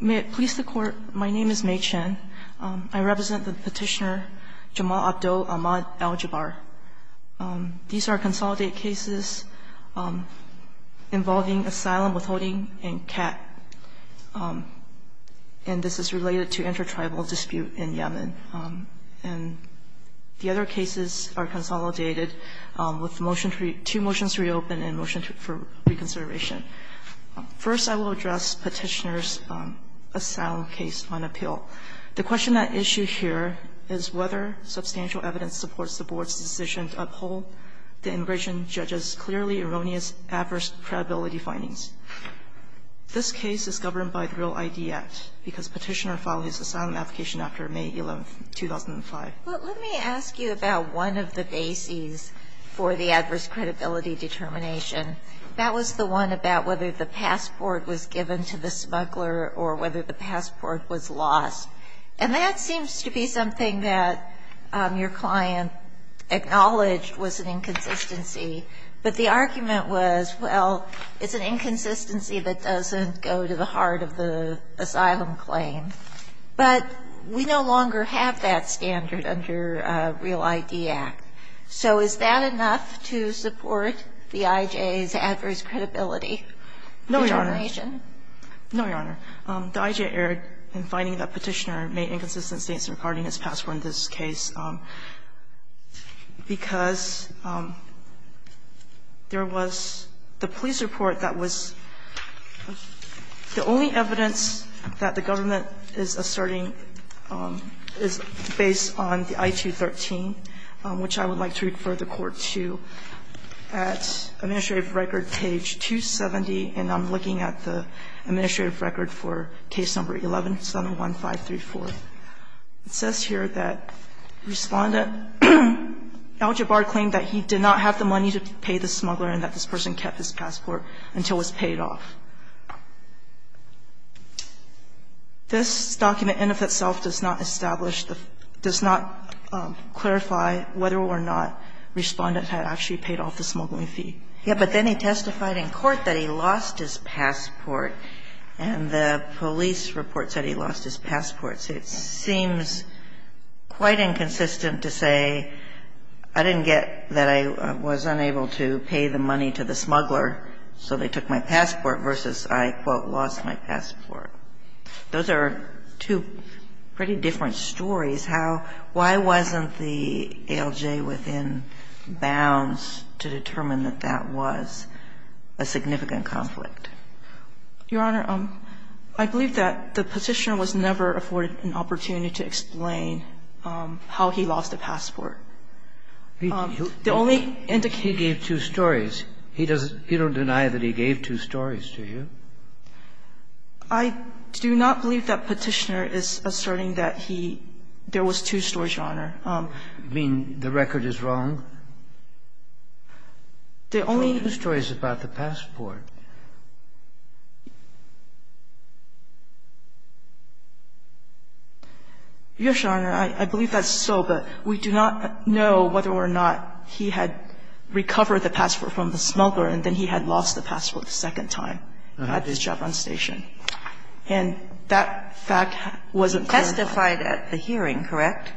May it please the court, my name is Mei Chen. I represent the petitioner Jamal Abdo Ahmad Al-Jabre. These are consolidated cases involving asylum withholding and CAT. And this is related to inter-tribal dispute in Yemen. And the other cases are consolidated with two motions to reopen and a motion for reconsideration. First, I will address Petitioner's asylum case on appeal. The question at issue here is whether substantial evidence supports the Board's decision to uphold the immigration judge's clearly erroneous adverse credibility findings. This case is governed by the Real ID Act because Petitioner filed his asylum application after May 11, 2005. But let me ask you about one of the bases for the adverse credibility determination. That was the one about whether the passport was given to the smuggler or whether the passport was lost. And that seems to be something that your client acknowledged was an inconsistency. But the argument was, well, it's an inconsistency that doesn't go to the heart of the asylum claim. But we no longer have that standard under Real ID Act. So is that enough to support the IJ's adverse credibility determination? No, Your Honor. No, Your Honor. The IJ erred in finding that Petitioner made inconsistencies regarding his passport in this case because there was the police report that was the only evidence that the I would like to refer the Court to at Administrative Record page 270, and I'm looking at the Administrative Record for case number 11, 71534. It says here that Respondent Al-Jabbar claimed that he did not have the money to pay the smuggler and that this person kept his passport until it was paid off. This document in and of itself does not establish the – does not clarify whether or not Respondent had actually paid off the smuggling fee. Yeah, but then he testified in court that he lost his passport, and the police report said he lost his passport. So it seems quite inconsistent to say, I didn't get that I was unable to pay the money to the smuggler, so they took my passport, versus I, quote, lost my passport. Those are two pretty different stories. Why wasn't the ALJ within bounds to determine that that was a significant conflict? Your Honor, I believe that the Petitioner was never afforded an opportunity to explain how he lost the passport. The only indication he gave two stories. He doesn't – you don't deny that he gave two stories, do you? I do not believe that Petitioner is asserting that he – there was two stories, Your Honor. You mean the record is wrong? The only – There were two stories about the passport. Your Honor, I believe that's so, but we do not know whether or not he had recovered the passport from the smuggler and then he had lost the passport the second time. He had his job on station. And that fact wasn't clear. Testified at the hearing, correct?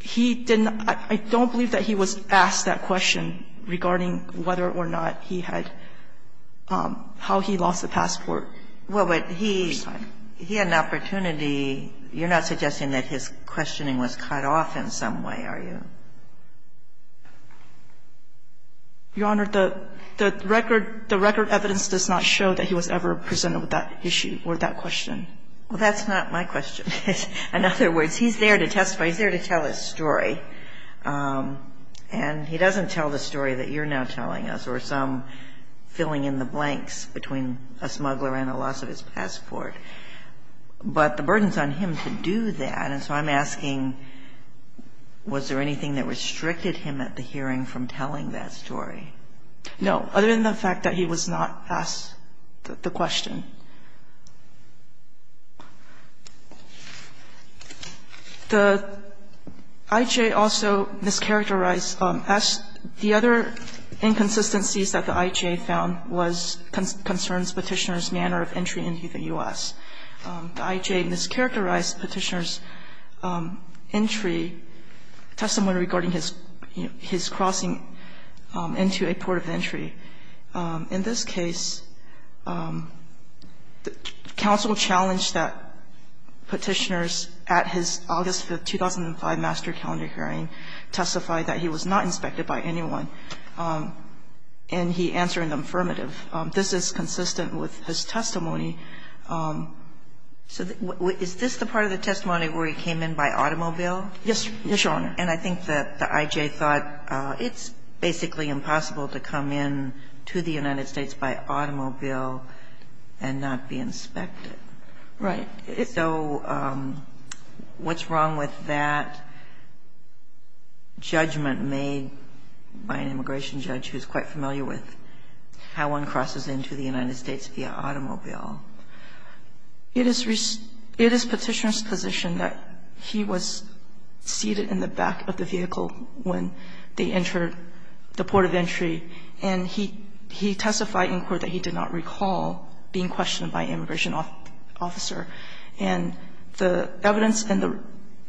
He didn't – I don't believe that he was asked that question regarding whether or not he had – how he lost the passport. Well, but he had an opportunity. You're not suggesting that his questioning was cut off in some way, are you? Your Honor, the record – the record evidence does not show that he was ever presented with that issue or that question. Well, that's not my question. In other words, he's there to testify. He's there to tell his story. And he doesn't tell the story that you're now telling us or some filling in the blanks between a smuggler and the loss of his passport. But the burden is on him to do that. And so I'm asking, was there anything that restricted him at the hearing from telling that story? No, other than the fact that he was not asked the question. The IJ also mischaracterized – the other inconsistencies that the IJ found was concerns Petitioner's manner of entry into the U.S. The IJ mischaracterized Petitioner's entry – testimony regarding his crossing into a port of entry. In this case, counsel challenged that Petitioner's – at his August 5, 2005, master calendar hearing testified that he was not inspected by anyone. And he answered in the affirmative. This is consistent with his testimony. So is this the part of the testimony where he came in by automobile? Yes, Your Honor. And I think that the IJ thought it's basically impossible to come in to the United States by automobile and not be inspected. Right. So what's wrong with that judgment made by an immigration judge who's quite familiar with how one crosses into the United States via automobile? It is Petitioner's position that he was seated in the back of the vehicle when they entered the port of entry. And he testified in court that he did not recall being questioned by an immigration officer. And the evidence in the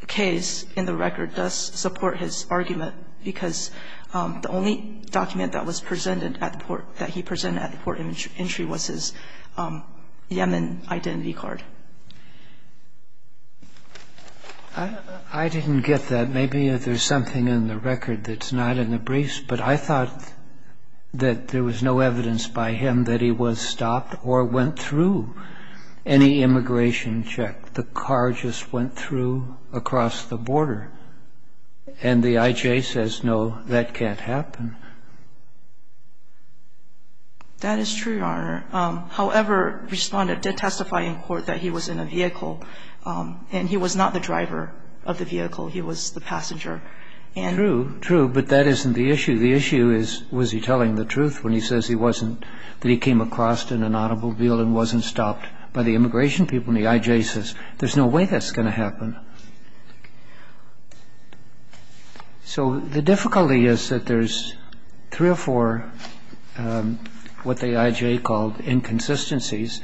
case, in the record, does support his argument because the only document that was presented at the port – that he presented at the port of entry was his Yemen identity card. I didn't get that. Maybe there's something in the record that's not in the briefs. But I thought that there was no evidence by him that he was stopped or went through any immigration check. The car just went through across the border. And the IJ says, no, that can't happen. That is true, Your Honor. However, Respondent did testify in court that he was in a vehicle. And he was not the driver of the vehicle. He was the passenger. True. True. But that isn't the issue. The issue is, was he telling the truth when he says he wasn't – that he came across in an automobile and wasn't stopped by the immigration people? And the IJ says, there's no way that's going to happen. So the difficulty is that there's three or four what the IJ called inconsistencies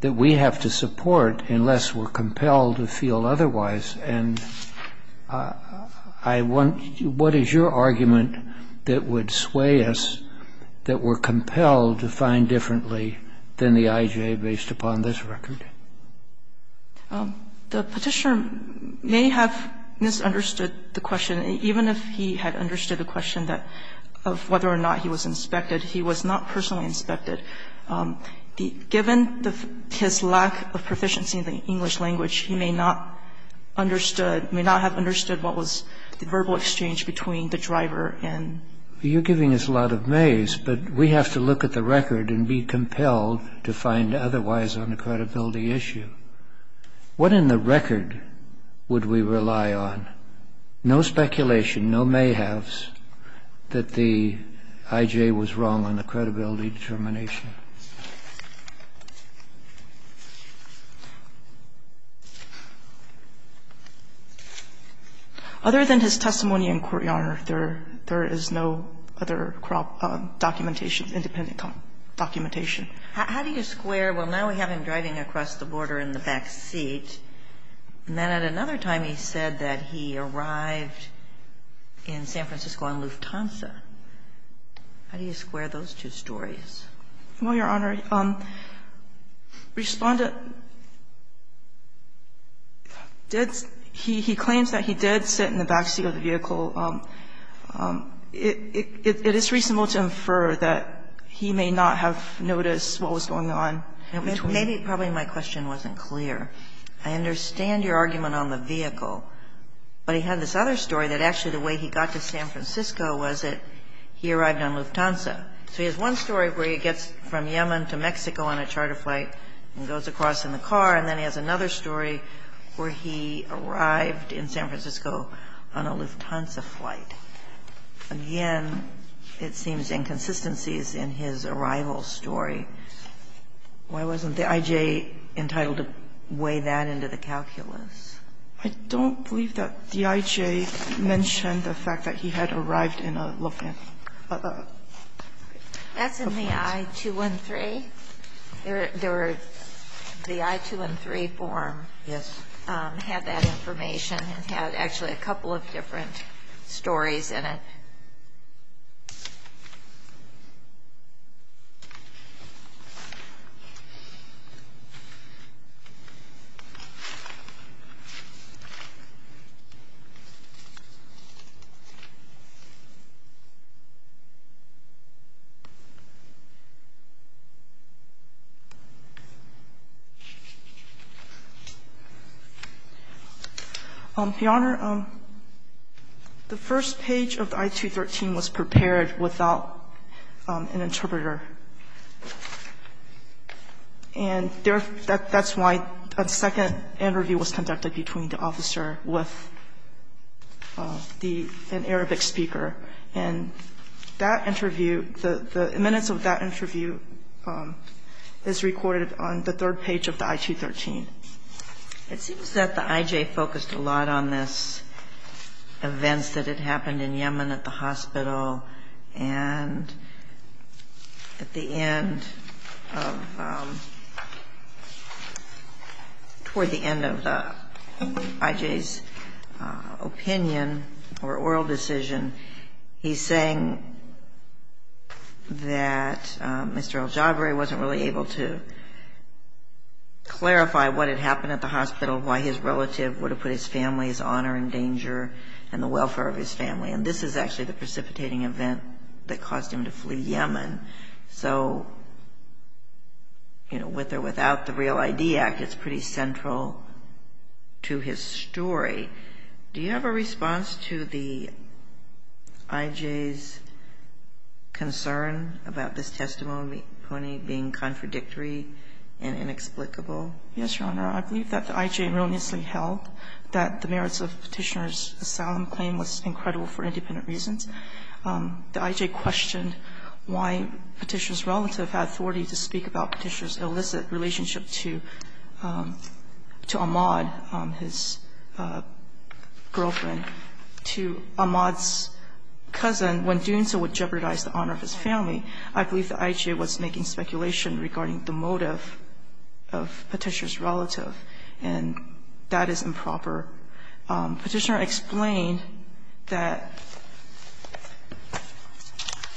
that we have to support unless we're compelled to feel otherwise. And I want – what is your argument that would sway us, that we're compelled to find differently than the IJ based upon this record? The Petitioner may have misunderstood the question. Even if he had understood the question that – of whether or not he was inspected, he was not personally inspected. Given his lack of proficiency in the English language, he may not understood – may not have understood what was the verbal exchange between the driver and – You're giving us a lot of maize, but we have to look at the record and be compelled to find otherwise on the credibility issue. What in the record would we rely on? No speculation, no mayhaves that the IJ was wrong on the credibility determination. Other than his testimony in court, Your Honor, there is no other documentation, independent documentation. How do you square, well, now we have him driving across the border in the backseat, and then at another time he said that he arrived in San Francisco on Lufthansa? How do you square those two stories? Well, Your Honor, Respondent did – he claims that he did sit in the backseat of the vehicle. It is reasonable to infer that he may not have noticed what was going on. Maybe probably my question wasn't clear. I understand your argument on the vehicle, but he had this other story that actually the way he got to San Francisco was that he arrived on Lufthansa. So he has one story where he gets from Yemen to Mexico on a charter flight and goes across in the car, and then he has another story where he arrived in San Francisco on a Lufthansa flight. Again, it seems inconsistencies in his arrival story. Why wasn't the IJ entitled to weigh that into the calculus? I don't believe that the IJ mentioned the fact that he had arrived in a Lufthansa. That's in the I-213. The I-213 form had that information. It had actually a couple of different stories in it. The Honor, the first page of the I-213 was prepared without an interpreter, and there – that's why a second interview was conducted between the officer with the – an Arabic speaker. And that interview, the minutes of that interview were in Arabic. This recorded on the third page of the I-213. It seems that the IJ focused a lot on this events that had happened in Yemen at the hospital, and at the end of – toward the end of the IJ's opinion or oral decision, he's saying that Mr. El-Jabry wasn't really able to clarify what had happened at the hospital, why his relative would have put his family's honor in danger and the welfare of his family. And this is actually the precipitating event that caused him to flee Yemen. So, you know, with or without the REAL ID Act, it's pretty central to his story. Do you have a response to the IJ's concern about this testimony being contradictory and inexplicable? Yes, Your Honor. I believe that the IJ erroneously held that the merits of Petitioner's asylum claim was incredible for independent reasons. The IJ questioned why Petitioner's relative had authority to speak about Petitioner's illicit relationship to Ahmad, his girlfriend, to Ahmad's cousin, when doing so would jeopardize the honor of his family. I believe the IJ was making speculation regarding the motive of Petitioner's relative, and that is improper. Petitioner explained that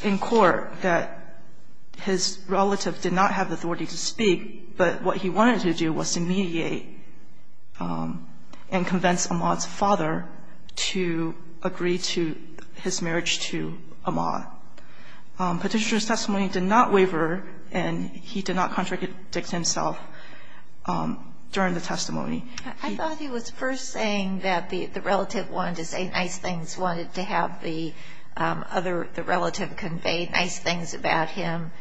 in court that his relative did not have the authority to speak, but what he wanted to do was to mediate and convince Ahmad's father to agree to his marriage to Ahmad. Petitioner's testimony did not waver, and he did not contradict himself during the testimony. I thought he was first saying that the relative wanted to say nice things, wanted to have the relative convey nice things about him,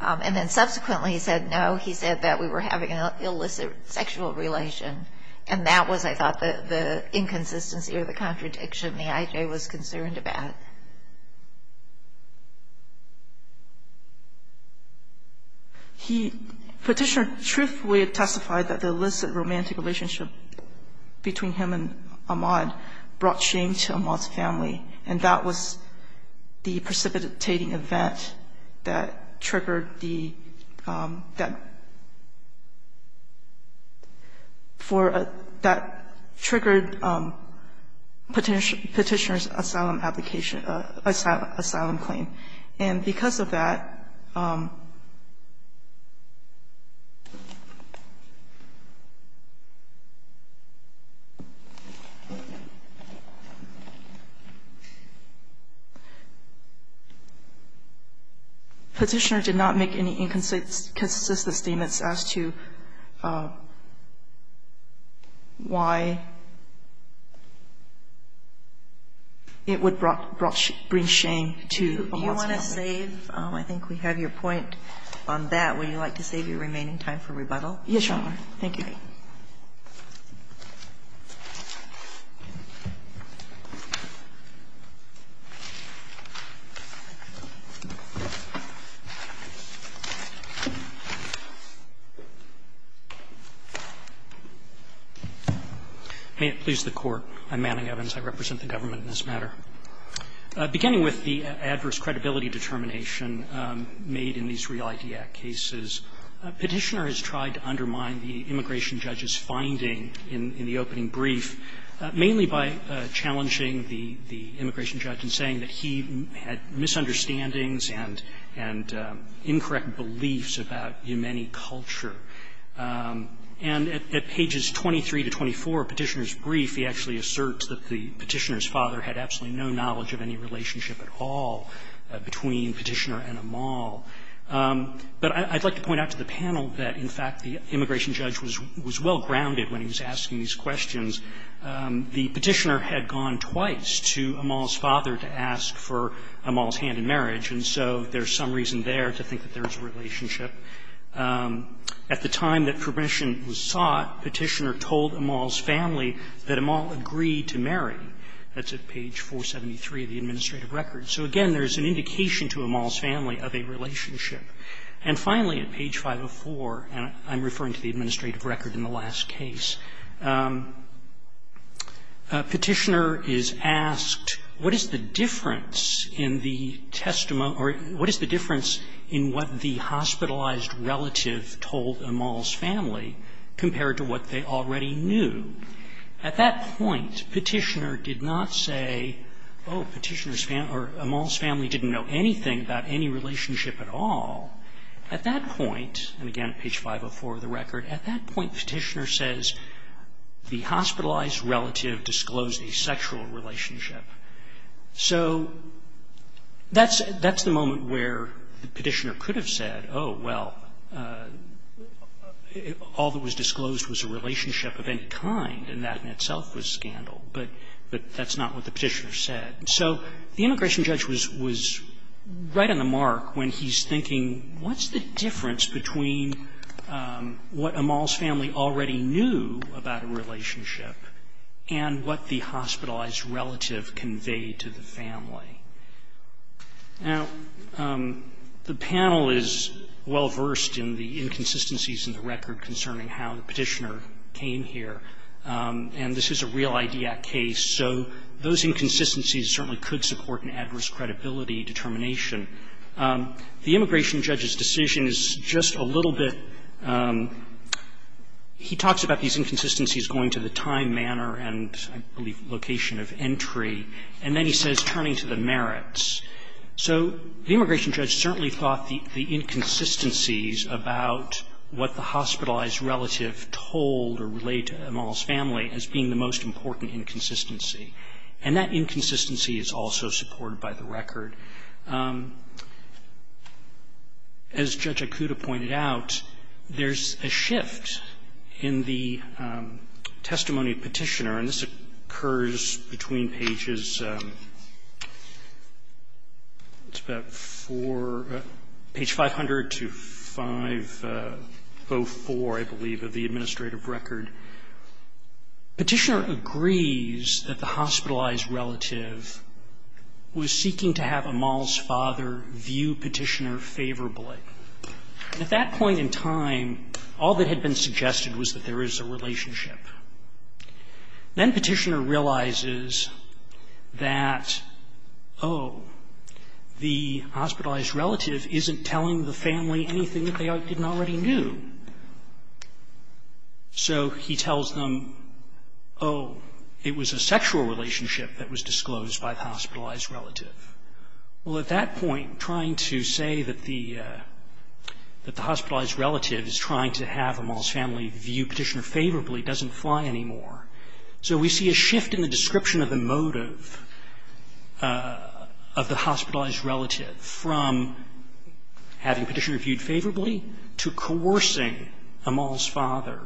and then subsequently he said, no, he said that we were having an illicit sexual relation, and that was, I thought, the inconsistency or the contradiction the IJ was concerned about. Petitioner truthfully testified that the illicit romantic relationship between him and Ahmad brought shame to Ahmad's family, and that was the precipitating event that triggered Petitioner's asylum claim. And because of that, Petitioner did not make any inconsistent statements as to why it would bring shame to Ahmad's family. Kagan. Do you want to save? I think we have your point on that. Would you like to save your remaining time for rebuttal? Yes, Your Honor. Thank you. May it please the Court. I'm Manning Evans. I represent the government in this matter. Beginning with the adverse credibility determination made in these Real ID Act cases, Petitioner has tried to undermine the immigration judge's finding in the opening brief, mainly by challenging the immigration judge in saying that he had misunderstandings and incorrect beliefs about Yemeni culture. And at pages 23 to 24 of Petitioner's brief, he actually asserts that the Petitioner's father had absolutely no knowledge of any relationship at all between Petitioner and Amal. But I'd like to point out to the panel that, in fact, the immigration judge was well grounded when he was asking these questions. The Petitioner had gone twice to Amal's father to ask for Amal's hand in marriage, and so there's some reason there to think that there is a relationship. At the time that permission was sought, Petitioner told Amal's family that Amal agreed to marry. That's at page 473 of the administrative record. So, again, there's an indication to Amal's family of a relationship. And finally, at page 504, and I'm referring to the administrative record in the last case, Petitioner is asked, what is the difference in the testimony or what is the difference in what the hospitalized relative told Amal's family compared to what they already knew? At that point, Petitioner did not say, oh, Petitioner's family or Amal's family didn't know anything about any relationship at all. At that point, and again at page 504 of the record, at that point Petitioner says the hospitalized relative disclosed a sexual relationship. So that's the moment where Petitioner could have said, oh, well, all that was disclosed was a relationship of any kind, and that in itself was scandal. But that's not what the Petitioner said. So the immigration judge was right on the mark when he's thinking, what's the difference between what Amal's family already knew about a relationship and what the hospitalized relative conveyed to the family? Now, the panel is well-versed in the inconsistencies in the record concerning how the Petitioner came here. And this is a real-idea case. So those inconsistencies certainly could support an adverse credibility determination. The immigration judge's decision is just a little bit – he talks about these inconsistencies going to the time, manner and, I believe, location of entry. And then he says turning to the merits. So the immigration judge certainly thought the inconsistencies about what the hospitalized relative told or relayed to Amal's family as being the most important inconsistency. And that inconsistency is also supported by the record. As Judge Akuta pointed out, there's a shift in the testimony of Petitioner. And this occurs between pages – it's about four – page 500 to 504, I believe, of the administrative record. Petitioner agrees that the hospitalized relative was seeking to have Amal's father view Petitioner favorably. And at that point in time, all that had been suggested was that there is a relationship. Then Petitioner realizes that, oh, the hospitalized relative isn't telling the family anything that they didn't already know. So he tells them, oh, it was a sexual relationship that was disclosed by the hospitalized relative. Well, at that point, trying to say that the hospitalized relative is trying to have Amal's family view Petitioner favorably doesn't fly anymore. So we see a shift in the description of the motive of the hospitalized relative from having Petitioner viewed favorably to coercing Amal's father.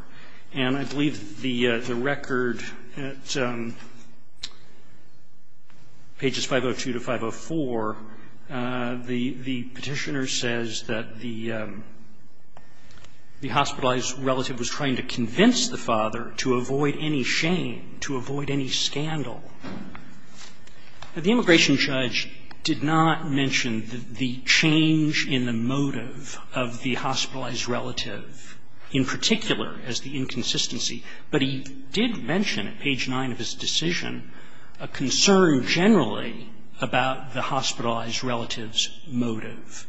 And I believe the record at pages 502 to 504, the Petitioner says that the hospitalized relative was trying to convince the father to avoid any shame, to avoid any scandal. The immigration judge did not mention the change in the motive of the hospitalized relative in particular as the inconsistency, but he did mention at page 9 of his decision a concern generally about the hospitalized relative's motive.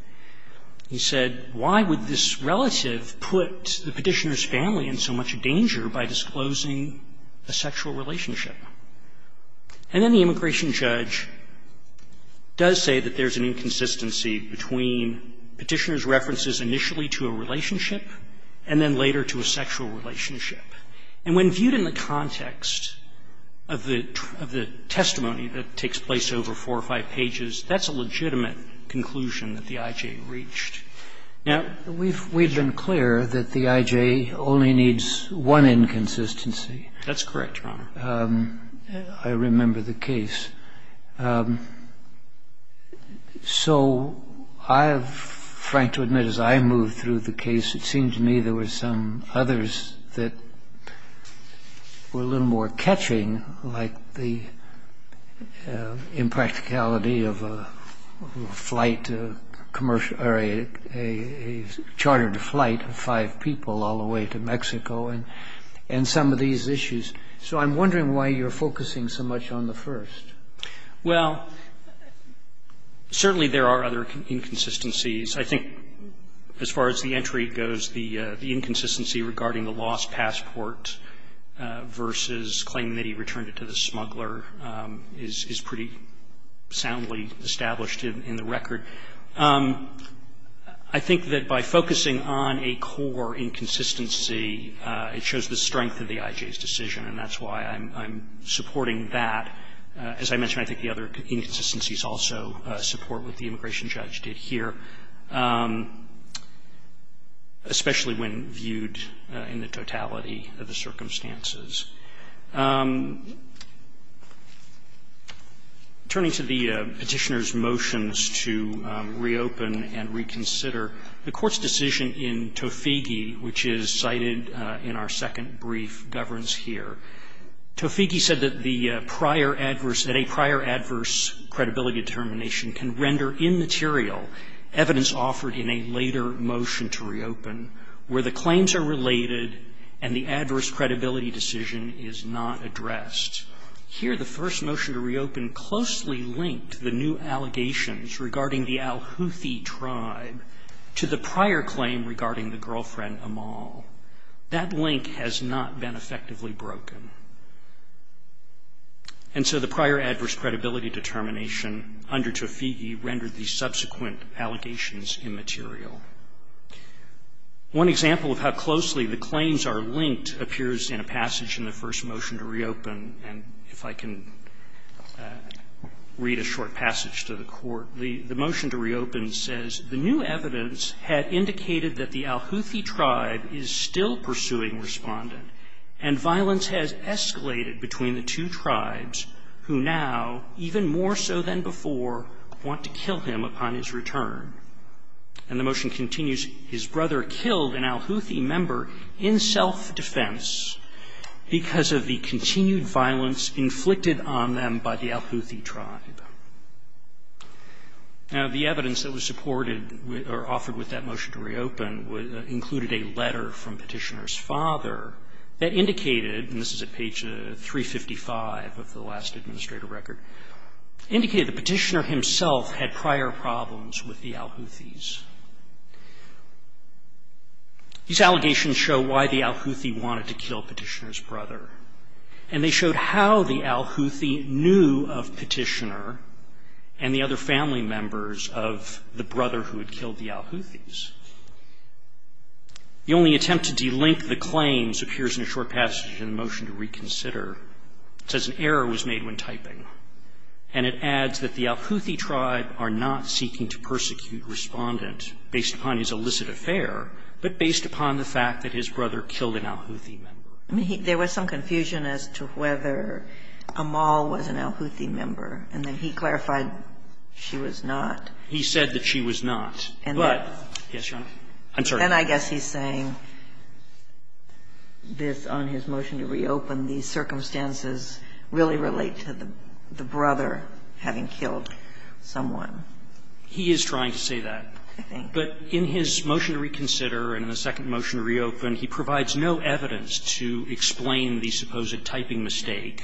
He said, why would this relative put the Petitioner's family in so much danger by disclosing a sexual relationship? And then the immigration judge does say that there's an inconsistency between Petitioner's references initially to a relationship and then later to a sexual relationship. And when viewed in the context of the testimony that takes place over four or five pages, that's a legitimate conclusion that the I.J. reached. Now, we've been clear that the I.J. only needs one inconsistency. That's correct, Your Honor. I remember the case. So I have, frank to admit, as I moved through the case, it seemed to me there were some inconsistencies, some others that were a little more catching, like the impracticality of a flight commercial or a chartered flight of five people all the way to Mexico and some of these issues. So I'm wondering why you're focusing so much on the first. Well, certainly there are other inconsistencies. I think as far as the entry goes, the inconsistency regarding the lost passport versus claiming that he returned it to the smuggler is pretty soundly established in the record. I think that by focusing on a core inconsistency, it shows the strength of the I.J.'s decision, and that's why I'm supporting that. As I mentioned, I think the other inconsistencies also support what the immigration judge did here, especially when viewed in the totality of the circumstances. Turning to the Petitioner's motions to reopen and reconsider, the Court's decision in Toffighi, which is cited in our second brief, governs here. Toffighi said that the prior adverse, that a prior adverse credibility determination can render immaterial evidence offered in a later motion to reopen where the claims are related and the adverse credibility decision is not addressed. Here, the first motion to reopen closely linked the new allegations regarding the Al-Houthi tribe to the prior claim regarding the girlfriend, Amal. That link has not been effectively broken. And so the prior adverse credibility determination under Toffighi rendered the subsequent allegations immaterial. One example of how closely the claims are linked appears in a passage in the first motion to reopen, and if I can read a short passage to the Court. The motion to reopen says, And the motion continues, Now, the evidence that was supported or offered with that motion to reopen included a letter from Petitioner's father that indicated, and this is at page 355 of the last administrative record, indicated the Petitioner himself had prior problems with the Al-Houthis. These allegations show why the Al-Houthi wanted to kill Petitioner's brother, and they showed how the Al-Houthi knew of Petitioner and the other family members of the brother who had killed the Al-Houthis. The only attempt to delink the claims appears in a short passage in the motion to reconsider. It says, And it adds that the Al-Houthi tribe are not seeking to persecute Respondent based upon his illicit affair, but based upon the fact that his brother killed an Al-Houthi member. There was some confusion as to whether Amal was an Al-Houthi member, and then he clarified she was not. He said that she was not, but yes, Your Honor, I'm sorry. But then I guess he's saying this on his motion to reopen, these circumstances really relate to the brother having killed someone. He is trying to say that. But in his motion to reconsider and the second motion to reopen, he provides no evidence to explain the supposed typing mistake,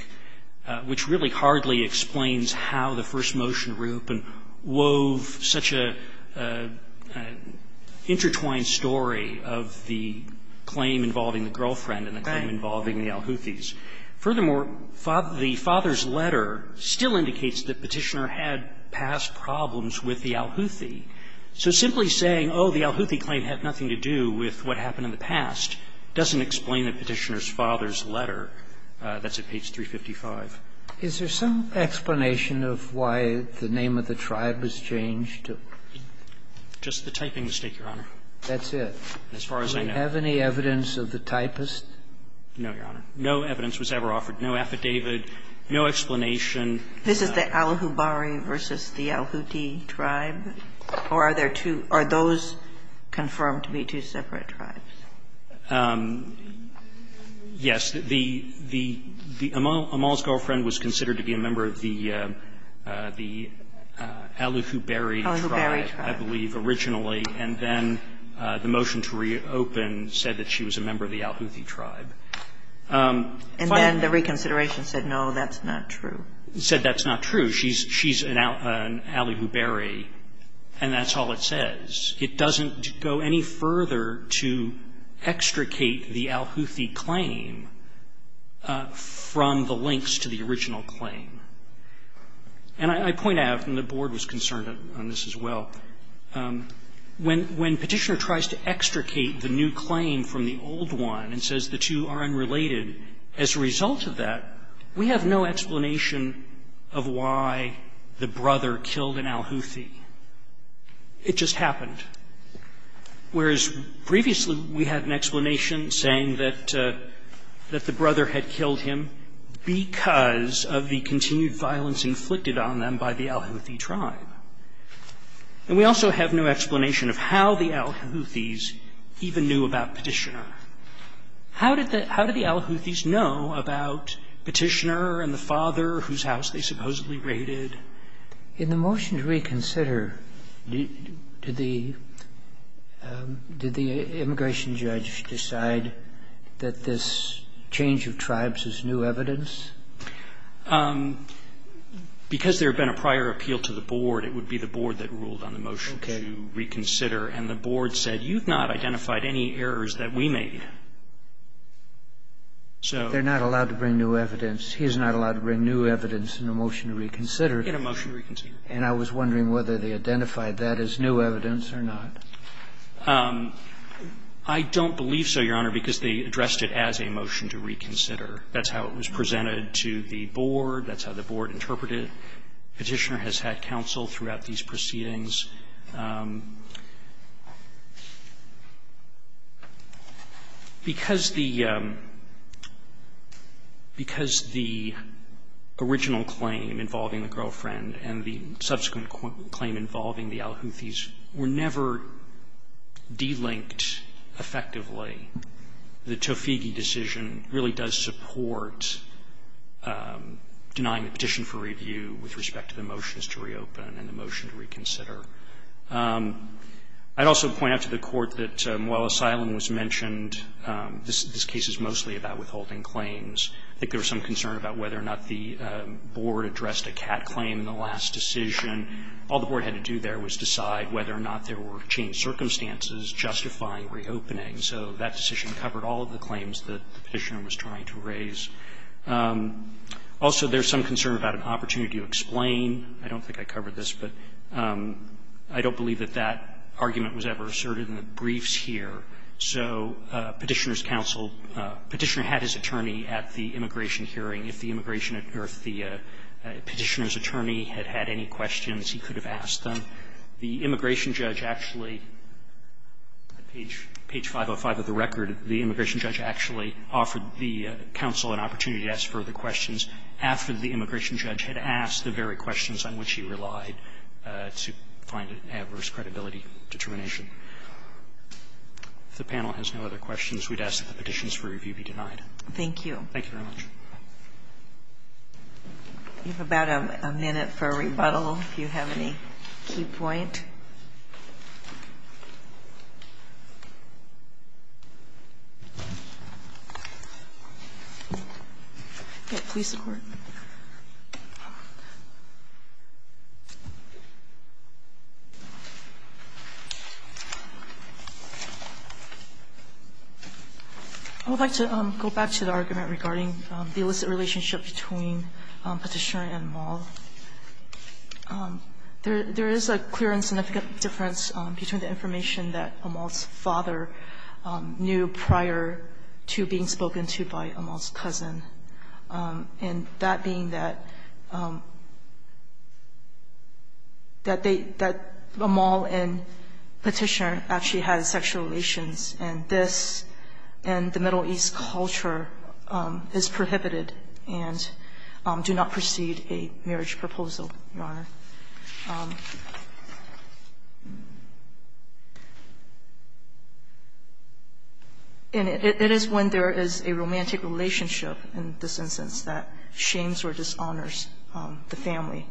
which really hardly explains how the first motion to reopen wove such an intertwined story of the claim involving the girlfriend and the claim involving the Al-Houthis. Furthermore, the father's letter still indicates that Petitioner had past problems with the Al-Houthi. So simply saying, oh, the Al-Houthi claim had nothing to do with what happened in the past, doesn't explain the Petitioner's father's letter. That's at page 355. Is there some explanation of why the name of the tribe was changed to? Just the typing mistake, Your Honor. That's it? As far as I know. Do we have any evidence of the typist? No, Your Honor. No evidence was ever offered. No affidavit. No explanation. This is the Al-Hubari v. the Al-Houthi tribe? Or are there two or are those confirmed to be two separate tribes? Yes. The Amal's girlfriend was considered to be a member of the Al-Hubari tribe, I believe, originally. And then the motion to reopen said that she was a member of the Al-Houthi tribe. And then the reconsideration said, no, that's not true. It said that's not true. She's an Al-Hubari, and that's all it says. It doesn't go any further to extricate the Al-Houthi claim from the links to the original claim. And I point out, and the Board was concerned on this as well, when Petitioner tries to extricate the new claim from the old one and says the two are unrelated, as a result of that, we have no explanation of why the brother killed an Al-Houthi. It just happened. Whereas previously we had an explanation saying that the brother had killed him because of the continued violence inflicted on them by the Al-Houthi tribe. And we also have no explanation of how the Al-Houthis even knew about Petitioner. How did the Al-Houthis know about Petitioner and the father whose house they supposedly raided? In the motion to reconsider, did the immigration judge decide that this change of tribes is new evidence? Because there had been a prior appeal to the Board, it would be the Board that ruled on the motion to reconsider. And the Board said, you've not identified any errors that we made. They're not allowed to bring new evidence. He is not allowed to bring new evidence in the motion to reconsider. In a motion to reconsider. And I was wondering whether they identified that as new evidence or not. I don't believe so, Your Honor, because they addressed it as a motion to reconsider. That's how it was presented to the Board. That's how the Board interpreted it. Petitioner has had counsel throughout these proceedings. I think the original claim involving the girlfriend and the subsequent claim involving the Al-Houthis were never de-linked effectively. The Toffighi decision really does support denying the petition for review with respect to the motions to reopen and the motion to reconsider. I'd also point out to the Court that while asylum was mentioned, this case is mostly about withholding claims. I think there was some concern about whether or not the Board addressed a cat claim in the last decision. All the Board had to do there was decide whether or not there were changed circumstances justifying reopening. So that decision covered all of the claims that the Petitioner was trying to raise. Also, there's some concern about an opportunity to explain. I don't think I covered this, but I don't believe that that argument was ever asserted in the briefs here. So Petitioner's counsel – Petitioner had his attorney at the immigration hearing. If the immigration – or if the Petitioner's attorney had had any questions, he could have asked them. The immigration judge actually – at page 505 of the record, the immigration judge actually offered the counsel an opportunity to ask further questions after the immigration judge had asked the very questions on which he relied to find an adverse credibility determination. If the panel has no other questions, we'd ask that the petitions for review be denied. Thank you. Thank you very much. You have about a minute for a rebuttal, if you have any key point. I would like to go back to the argument regarding the illicit relationship between Petitioner and Maul. There is a clear and synoptic argument that Petitioner and Maul were not in a relationship and Maul. There is a significant difference between the information that Maul's father knew prior to being spoken to by Maul's cousin, and that being that – that they – that Maul and Petitioner actually had sexual relations, and this and the Middle East culture is prohibited and do not precede a marriage proposal, Your Honor. And it is when there is a romantic relationship in this instance that shames or dishonors the family.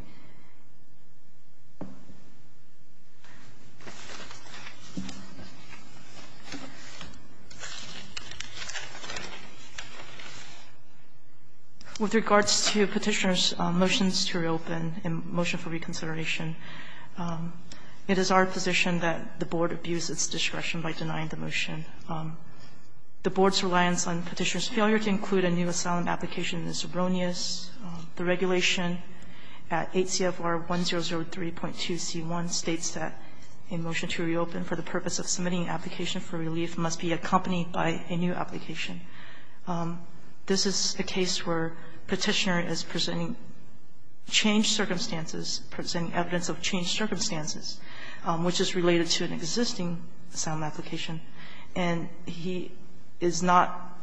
With regards to Petitioner's motions to reopen and motion for review, I would like to make a point of clarification. It is our position that the Board abuses its discretion by denying the motion. The Board's reliance on Petitioner's failure to include a new asylum application is erroneous. The regulation at 8 CFR 1003.2c1 states that a motion to reopen for the purpose of submitting an application for relief must be accompanied by a new application. This is a case where Petitioner is presenting changed circumstances, presenting evidence of changed circumstances, which is related to an existing asylum application, and he is not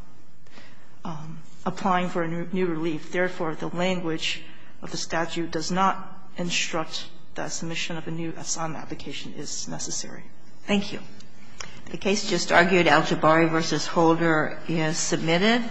applying for a new relief. Therefore, the language of the statute does not instruct that submission of a new asylum application is necessary. Thank you. The case just argued, Aljabari v. Holder, is submitted.